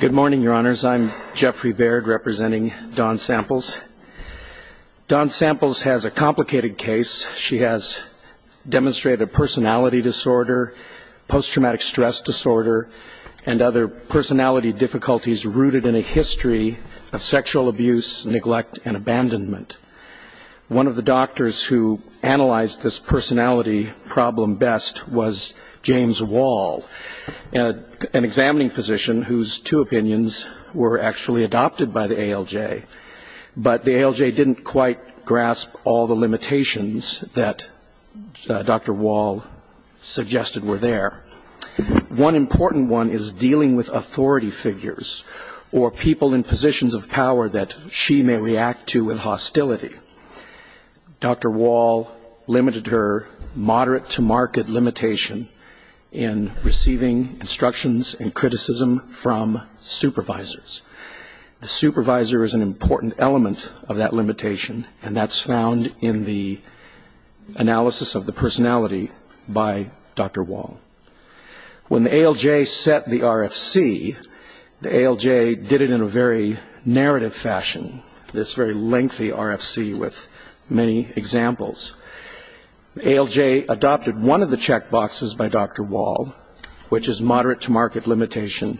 Good morning, your honors. I'm Jeffrey Baird, representing Dawn Samples. Dawn Samples has a complicated case. She has demonstrated a personality disorder, post traumatic stress disorder, and other personality difficulties rooted in a history of sexual abuse, neglect, and abandonment. One of the doctors who analyzed this personality problem best was James Wall, an examining physician whose two opinions were actually adopted by the ALJ. But the ALJ didn't quite grasp all the limitations that Dr. Wall suggested were there. One important one is dealing with authority figures, or people in positions of power that she may react to with hostility. Dr. Wall limited her moderate to marked limitation in responding to receiving instructions and criticism from supervisors. The supervisor is an important element of that limitation, and that's found in the analysis of the personality by Dr. Wall. When the ALJ set the RFC, the ALJ did it in a very narrative fashion, this very lengthy RFC with many examples. The ALJ adopted one of the check boxes by Dr. Wall, and the which is moderate to marked limitation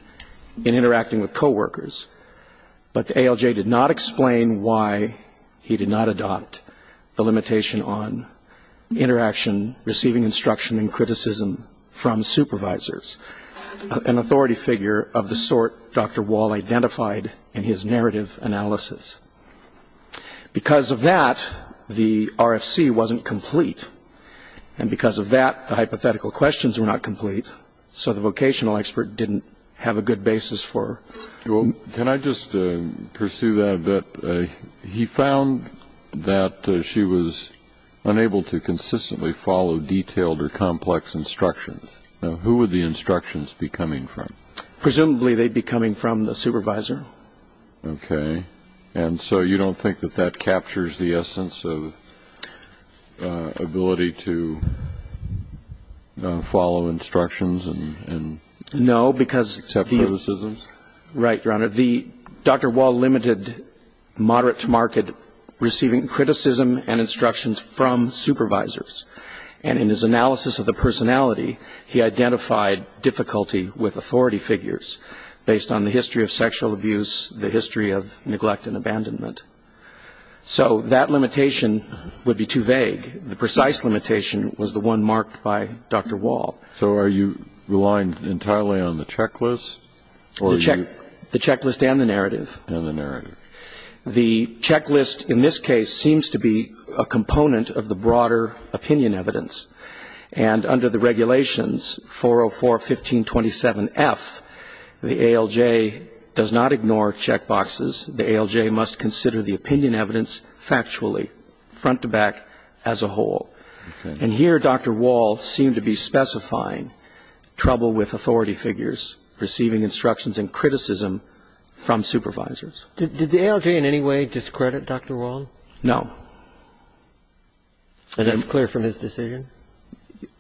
in interacting with coworkers. But the ALJ did not explain why he did not adopt the limitation on interaction, receiving instruction and criticism from supervisors, an authority figure of the sort Dr. Wall identified in his narrative analysis. Because of that, the RFC wasn't complete. And because of that, the hypothetical questions were not complete, so the vocational expert didn't have a good basis for... Can I just pursue that a bit? He found that she was unable to consistently follow detailed or complex instructions. Who would the instructions be coming from? Presumably they'd be coming from the supervisor. Okay. And so you don't think that that captures the essence of ability to follow instructions and accept criticism? No, because... Right, Your Honor. Dr. Wall limited moderate to marked receiving criticism and instructions from supervisors. And in his analysis of the personality, he identified difficulty with authority figures based on the history of sexual abuse, the history of sexual abuse. That limitation would be too vague. The precise limitation was the one marked by Dr. Wall. So are you relying entirely on the checklist or are you... The checklist and the narrative. And the narrative. The checklist in this case seems to be a component of the broader opinion evidence. And under the regulations, 404.15.27.F, the ALJ does not ignore checkboxes. The ALJ must consider the opinion evidence factually, front to back, as a whole. And here Dr. Wall seemed to be specifying trouble with authority figures, receiving instructions and criticism from supervisors. Did the ALJ in any way discredit Dr. Wall? No. And that's clear from his decision?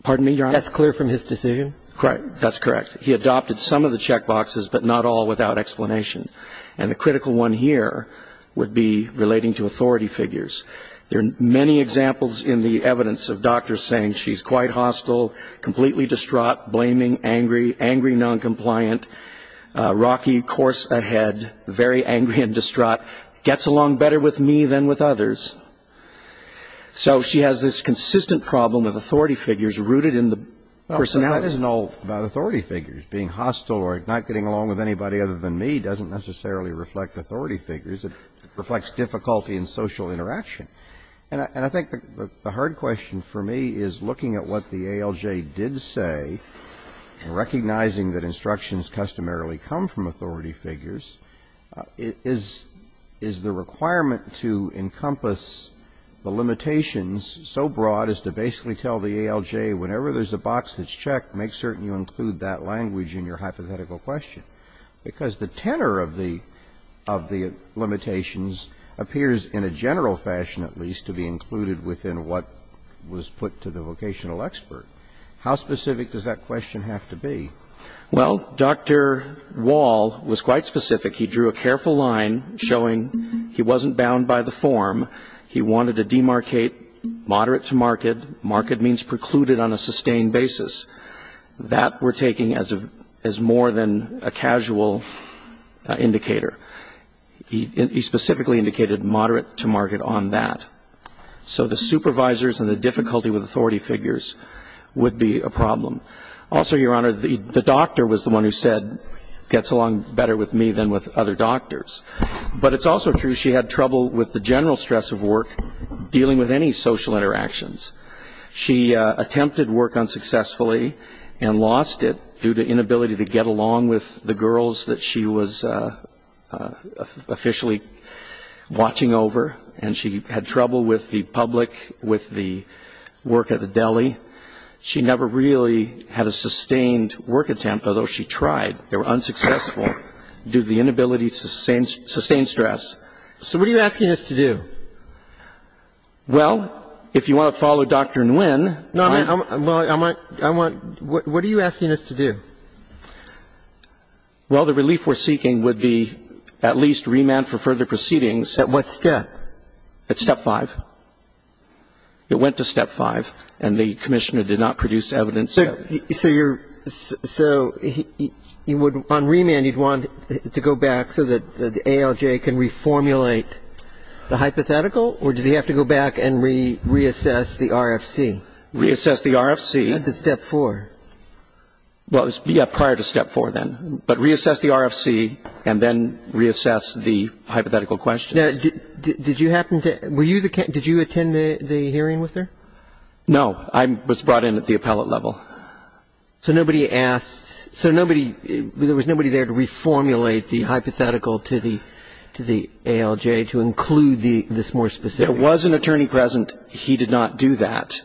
Pardon me, Your Honor? That's clear from his decision? Correct. That's correct. He adopted some of the checkboxes, but not all without explanation. And the critical one here would be relating to authority figures. There are many examples in the evidence of doctors saying she's quite hostile, completely distraught, blaming, angry, angry, noncompliant, rocky course ahead, very angry and distraught, gets along better with me than with others. So she has this consistent problem of authority figures rooted in the personality. Well, that isn't all about authority figures. Being hostile or not getting along with anybody other than me doesn't necessarily reflect authority figures. It reflects difficulty in social interaction. And I think the hard question for me is looking at what the ALJ did say and recognizing that instructions customarily come from authority figures, is the requirement to encompass the limitations so broad as to basically tell the ALJ, whenever there's a box that's checked, make certain you include that language in your hypothetical question? Because the tenor of the limitations appears in a general fashion, at least, to be included within what was put to the vocational expert. How specific does that question have to be? Well, Dr. Wall was quite specific. He drew a careful line showing he wasn't bound by the form. He wanted to demarcate moderate to marked. Marked means precluded on a sustained basis. That we're taking as more than a casual indicator. He specifically indicated moderate to marked on that. So the supervisors and the difficulty with authority figures would be a problem. Also, Your Honor, the doctor was the one who said, gets along better with me than with other doctors. But it's also true she had trouble with the general stress of work dealing with any social interactions. She attempted work unsuccessfully and lost it due to inability to get along with the girls that she was officially watching over. And she had trouble with the public, with the work at the deli. She never really had a sustained work attempt, although she tried. They were unsuccessful due to the inability to sustain stress. So what are you asking us to do? Well, if you want to follow Dr. Nguyen. No, I'm not. I'm not. I'm not. What are you asking us to do? Well, the relief we're seeking would be at least remand for further proceedings. At what step? At step 5. It went to step 5, and the Commissioner did not produce evidence. So you're so he would on remand, he'd want to go back so that the ALJ can reform relate the hypothetical, or did he have to go back and reassess the RFC? Reassess the RFC. At the step 4. Yeah, prior to step 4 then. But reassess the RFC and then reassess the hypothetical questions. Did you happen to, were you the, did you attend the hearing with her? No. I was brought in at the appellate level. So nobody asked, so nobody, there was nobody there to reformulate the hypothetical to the ALJ to include this more specific? There was an attorney present. He did not do that.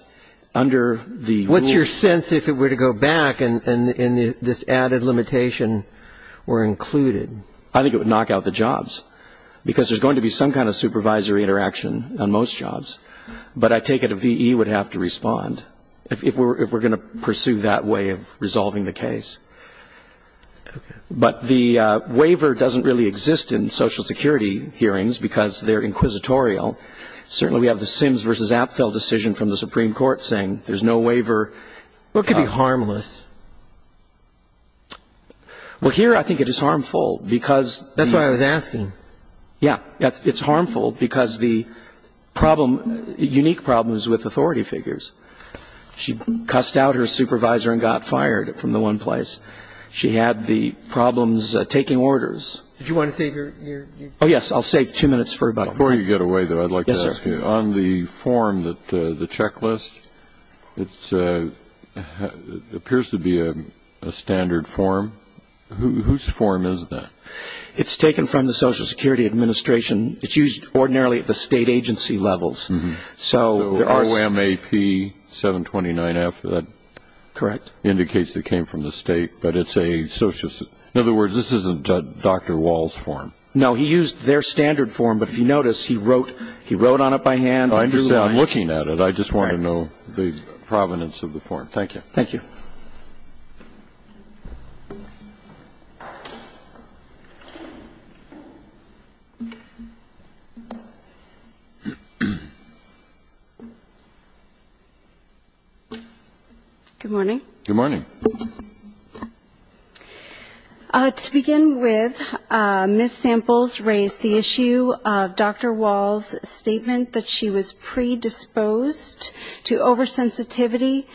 Under the rules. What's your sense if it were to go back and this added limitation were included? I think it would knock out the jobs. Because there's going to be some kind of supervisory interaction on most jobs. But I take it a VE would have to respond. If we're going to pursue that way of resolving the case. But the waiver doesn't really exist in social security hearings because they're inquisitorial. Certainly we have the Sims v. Apfel decision from the Supreme Court saying there's no waiver. What could be harmless? Well, here I think it is harmful because. That's what I was asking. Yeah. It's harmful because the problem, unique problems with authority figures. She got her supervisor and got fired from the one place. She had the problems taking orders. Did you want to save your? Oh, yes. I'll save two minutes for everybody. Before you get away, though, I'd like to ask you. On the form, the checklist, it appears to be a standard form. Whose form is that? It's taken from the Social Security Administration. It's used ordinarily at the state agency levels. So O.M.A.P. 729F, that indicates it came from the state. But it's a social. In other words, this isn't Dr. Wall's form. No. He used their standard form. But if you notice, he wrote on it by hand. I understand. I'm looking at it. I just want to know the provenance of the form. Thank you. Thank you. Good morning. Good morning. To begin with, Ms. Samples raised the issue of Dr. Wall's statement that she was predisposed to oversensitivity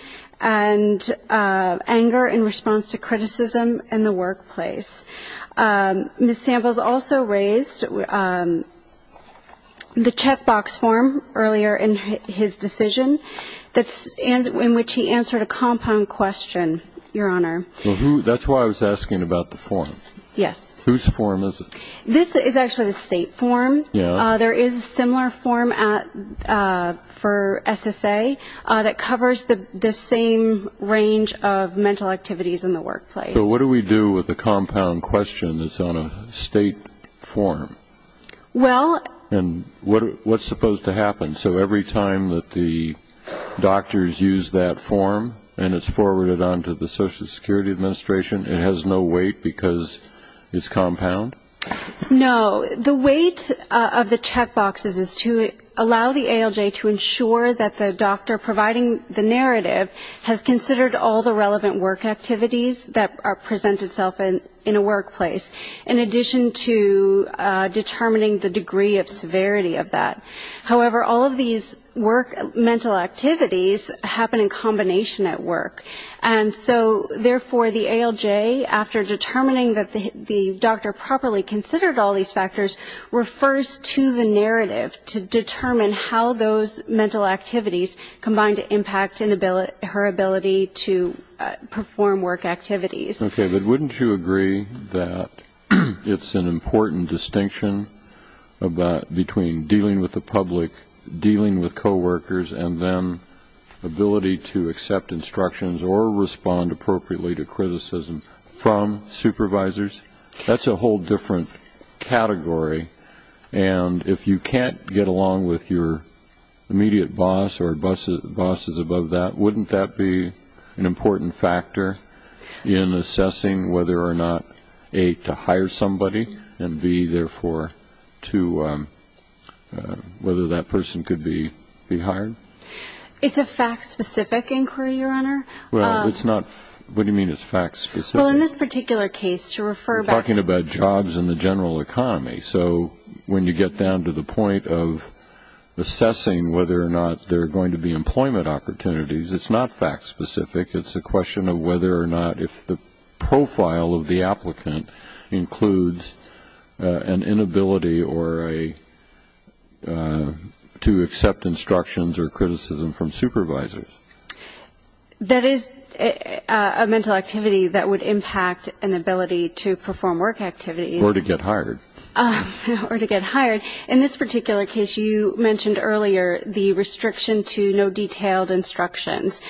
and anger in response to criticism in the workplace. Ms. Samples also raised the checkbox form earlier in his decision, in which he answered a compound question, Your Honor. That's why I was asking about the form. Yes. Whose form is it? This is actually the state form. There is a similar form for SSA that covers the same range of mental activities in the workplace. So what do we do with the compound question that's on a state form? Well... And what's supposed to happen? So every time that the doctors use that form and it's forwarded on to the Social Security Administration, it has no weight because it's compound? No. The weight of the checkboxes is to allow the ALJ to ensure that the doctor providing the narrative has considered all the relevant work activities that present itself in a workplace, in addition to determining the degree of severity of that. However, all of these work mental activities happen in combination at work. And so, therefore, the ALJ, after determining that the doctor properly considered all these factors, refers to the narrative to determine how those mental activities combine to impact her ability to perform work activities. Okay. But wouldn't you agree that it's an important distinction between dealing with the public, dealing with coworkers, and then ability to accept instructions or respond appropriately to criticism from supervisors? That's a whole different category. And if you can't get along with your immediate boss or bosses above that, wouldn't that be an important factor in assessing whether or not, A, to hire somebody, and B, therefore, to determine whether that person could be hired? It's a fact-specific inquiry, Your Honor. Well, it's not. What do you mean it's fact-specific? Well, in this particular case, to refer back to... We're talking about jobs and the general economy. So when you get down to the point of assessing whether or not there are going to be employment opportunities, it's not fact-specific. It's a question of whether or not, if the profile of the applicant includes an inability or a way to accept instructions or criticism from supervisors. That is a mental activity that would impact an ability to perform work activities. Or to get hired. Or to get hired. In this particular case, you mentioned earlier the restriction to no detailed instructions.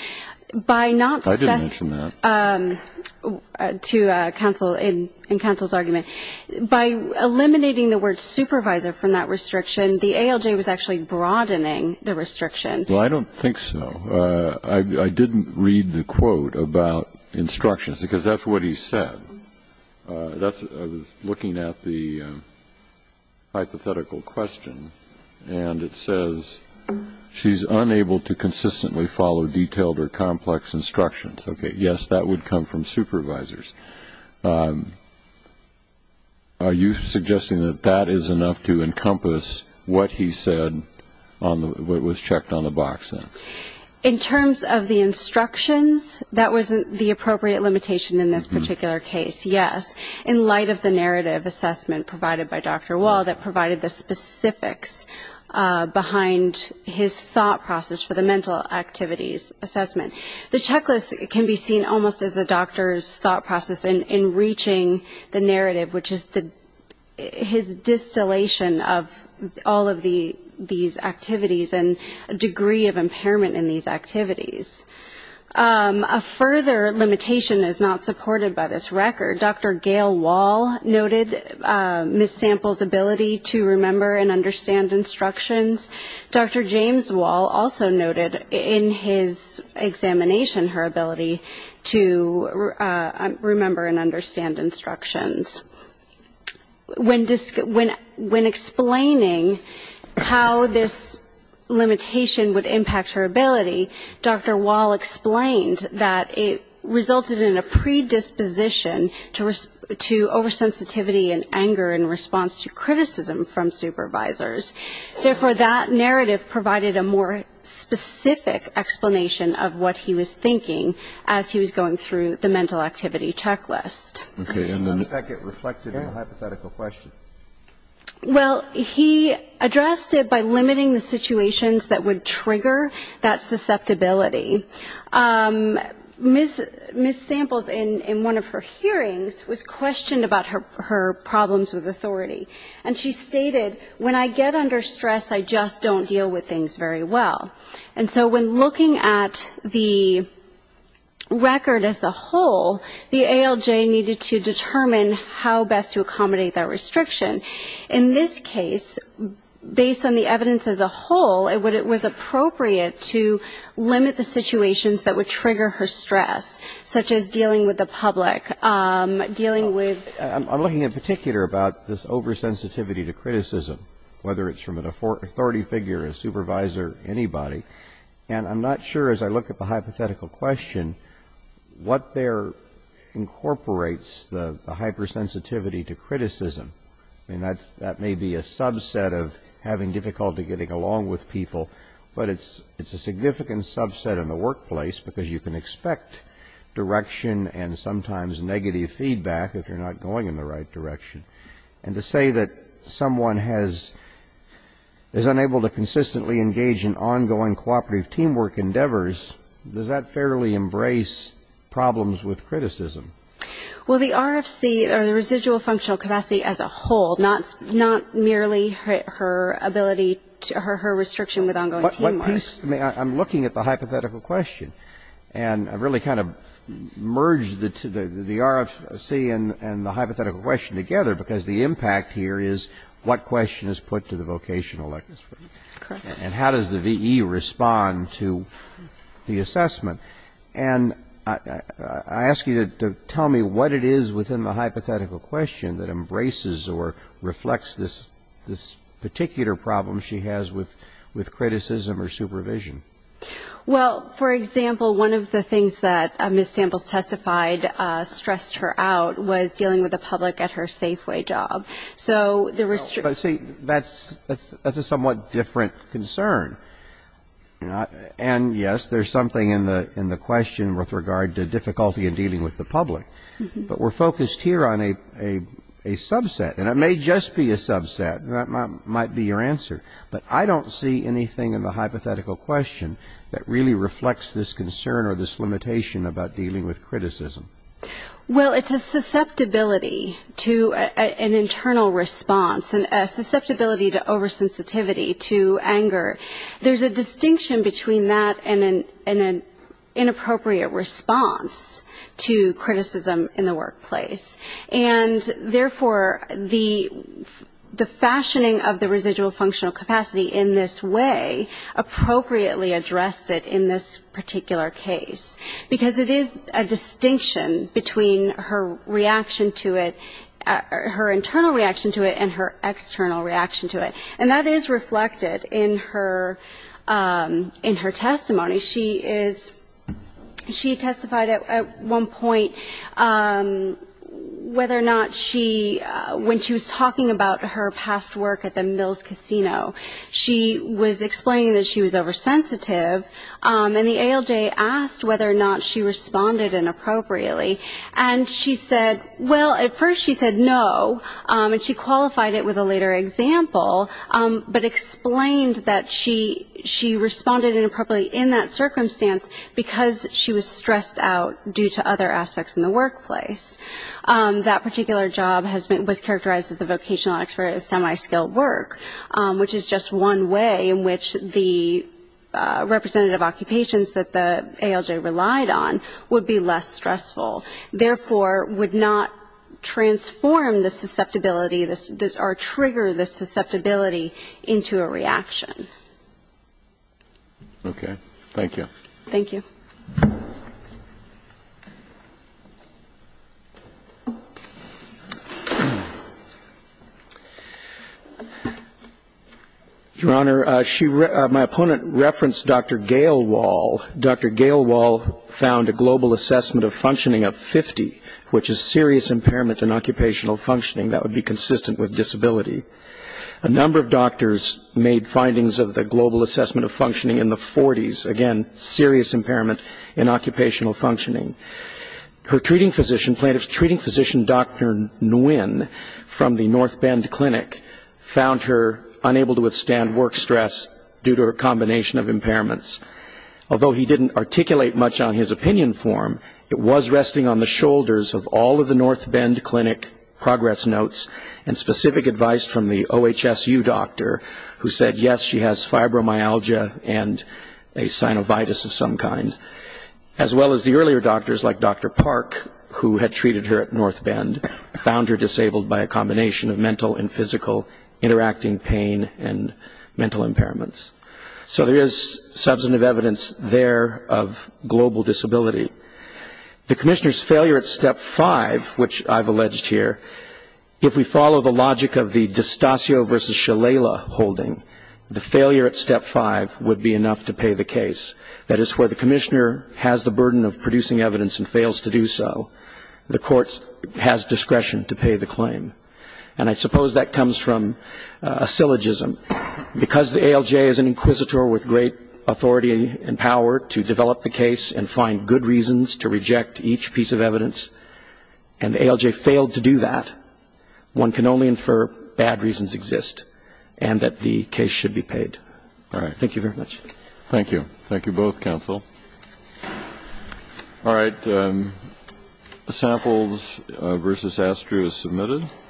By not... I didn't mention that. ...to counsel in counsel's argument. By eliminating the word supervisor from that restriction, the ALJ was actually broadening the restriction. Well, I don't think so. I didn't read the quote about instructions, because that's what he said. I was looking at the hypothetical question, and it says, she's unable to consistently follow detailed or complex instructions. Okay, yes, that would come from supervisors. Are you suggesting that that is enough to encompass what he said, what was checked on the box then? In terms of the instructions, that wasn't the appropriate limitation in this particular case, yes. In light of the narrative assessment provided by Dr. Wall that provided the specifics behind his thought process for the mental activities assessment. The checklist can be seen almost as a doctor's thought process in reaching the narrative, which is his distillation of all of these activities and degree of impairment in these activities. A further limitation is not supported by this record. Dr. Gail Wall noted Ms. Sample's ability to remember and understand instructions. Dr. James Wall also noted in his examination her ability to remember and understand instructions. When explaining how this limitation would impact her ability, Dr. Wall explained that it resulted in a predisposition to oversensitivity and anger in response to criticism from supervisors. Therefore that narrative provided a more specific explanation of what he was thinking as he was going through the mental activity checklist. Okay, and then... How does that get reflected in the hypothetical question? Well, he addressed it by limiting the situations that would trigger that susceptibility. Most of Ms. Sample's in one of her hearings was questioned about her problems with authority. And she stated, when I get under stress, I just don't deal with things very well. And so when looking at the record as a whole, the ALJ needed to determine how best to accommodate that restriction. In this case, based on the evidence as a whole, it was appropriate to address, such as dealing with the public, dealing with... I'm looking in particular about this oversensitivity to criticism, whether it's from an authority figure, a supervisor, anybody. And I'm not sure, as I look at the hypothetical question, what there incorporates the hypersensitivity to criticism. I mean, that may be a subset of having difficulty getting along with people, but it's a significant subset in the workplace because you can expect direction and sometimes negative feedback if you're not going in the right direction. And to say that someone has, is unable to consistently engage in ongoing cooperative teamwork endeavors, does that fairly embrace problems with criticism? Well, the RFC, or the residual functional capacity as a whole, not merely her ability, her restriction with ongoing teamwork. I mean, I'm looking at the hypothetical question, and I really kind of merged the RFC and the hypothetical question together because the impact here is what question is put to the vocational expert, and how does the V.E. respond to the assessment. And I ask you to tell me what it is within the hypothetical question that embraces or reflects this particular problem she has with criticism or supervision. Well, for example, one of the things that Ms. Samples testified stressed her out was dealing with the public at her Safeway job. So the restriction No, but see, that's a somewhat different concern. And yes, there's something in the question with regard to difficulty in dealing with the public. But we're focused here on a subset, and it may just be a subset. That might be your answer. But I don't see anything in the hypothetical question that really reflects this concern or this limitation about dealing with criticism. Well, it's a susceptibility to an internal response, a susceptibility to oversensitivity, to anger. There's a distinction between that and an inappropriate response to criticism in the workplace. And therefore, the fashioning of the residual functional capacity in this way appropriately addressed it in this particular case, because it is a distinction between her reaction to it, her internal reaction to it and her external reaction to it. And that is reflected in her testimony. She is, she testified at one point about the fact whether or not she, when she was talking about her past work at the Mills Casino, she was explaining that she was oversensitive. And the ALJ asked whether or not she responded inappropriately. And she said, well, at first she said no, and she qualified it with a later example, but explained that she responded inappropriately in that circumstance because she was stressed out due to other aspects in the workplace. That particular job has been, was characterized as the vocational act for a semi-skilled work, which is just one way in which the representative occupations that the ALJ relied on would be less stressful, therefore would not transform the susceptibility or trigger the susceptibility into a reaction. Okay. Thank you. Thank you. Your Honor, she, my opponent referenced Dr. Gale Wall. Dr. Gale Wall found a global assessment of functioning of 50, which is serious impairment in occupational functioning that would be consistent with disability. A number of doctors made findings of the global assessment of functioning in the 40s, again, serious impairment in occupational functioning. Her treating physician, plaintiff's treating physician Dr. Nguyen from the North Bend Clinic found her unable to withstand work stress due to her combination of impairments. Although he didn't articulate much on his opinion form, it was resting on the shoulders of all of the North Bend Clinic progress notes and specific advice from the OHSU doctor who said, yes, she has fibromyalgia and a synovitis of some kind, as well as the earlier doctors like Dr. Park, who had treated her at North Bend, found her disabled by a combination of mental and physical interacting pain and mental impairments. So there is substantive evidence there of global disability. The Commissioner's failure at Step 5, which I've alleged here, if we follow the logic of the D'Eustassio versus Shalala holding, the failure at Step 5 would be enough to pay the case. That is, where the Commissioner has the burden of producing evidence and fails to do so, the court has discretion to pay the claim. And I suppose that comes from a syllogism. Because the ALJ is an inquisitor with great authority and power to develop the case and find good reasons to reject each piece of evidence, and the ALJ failed to do that, one can only infer bad reasons exist and that the case should be paid. Thank you very much. Thank you. Thank you both, counsel. All right. Samples versus Astruz submitted.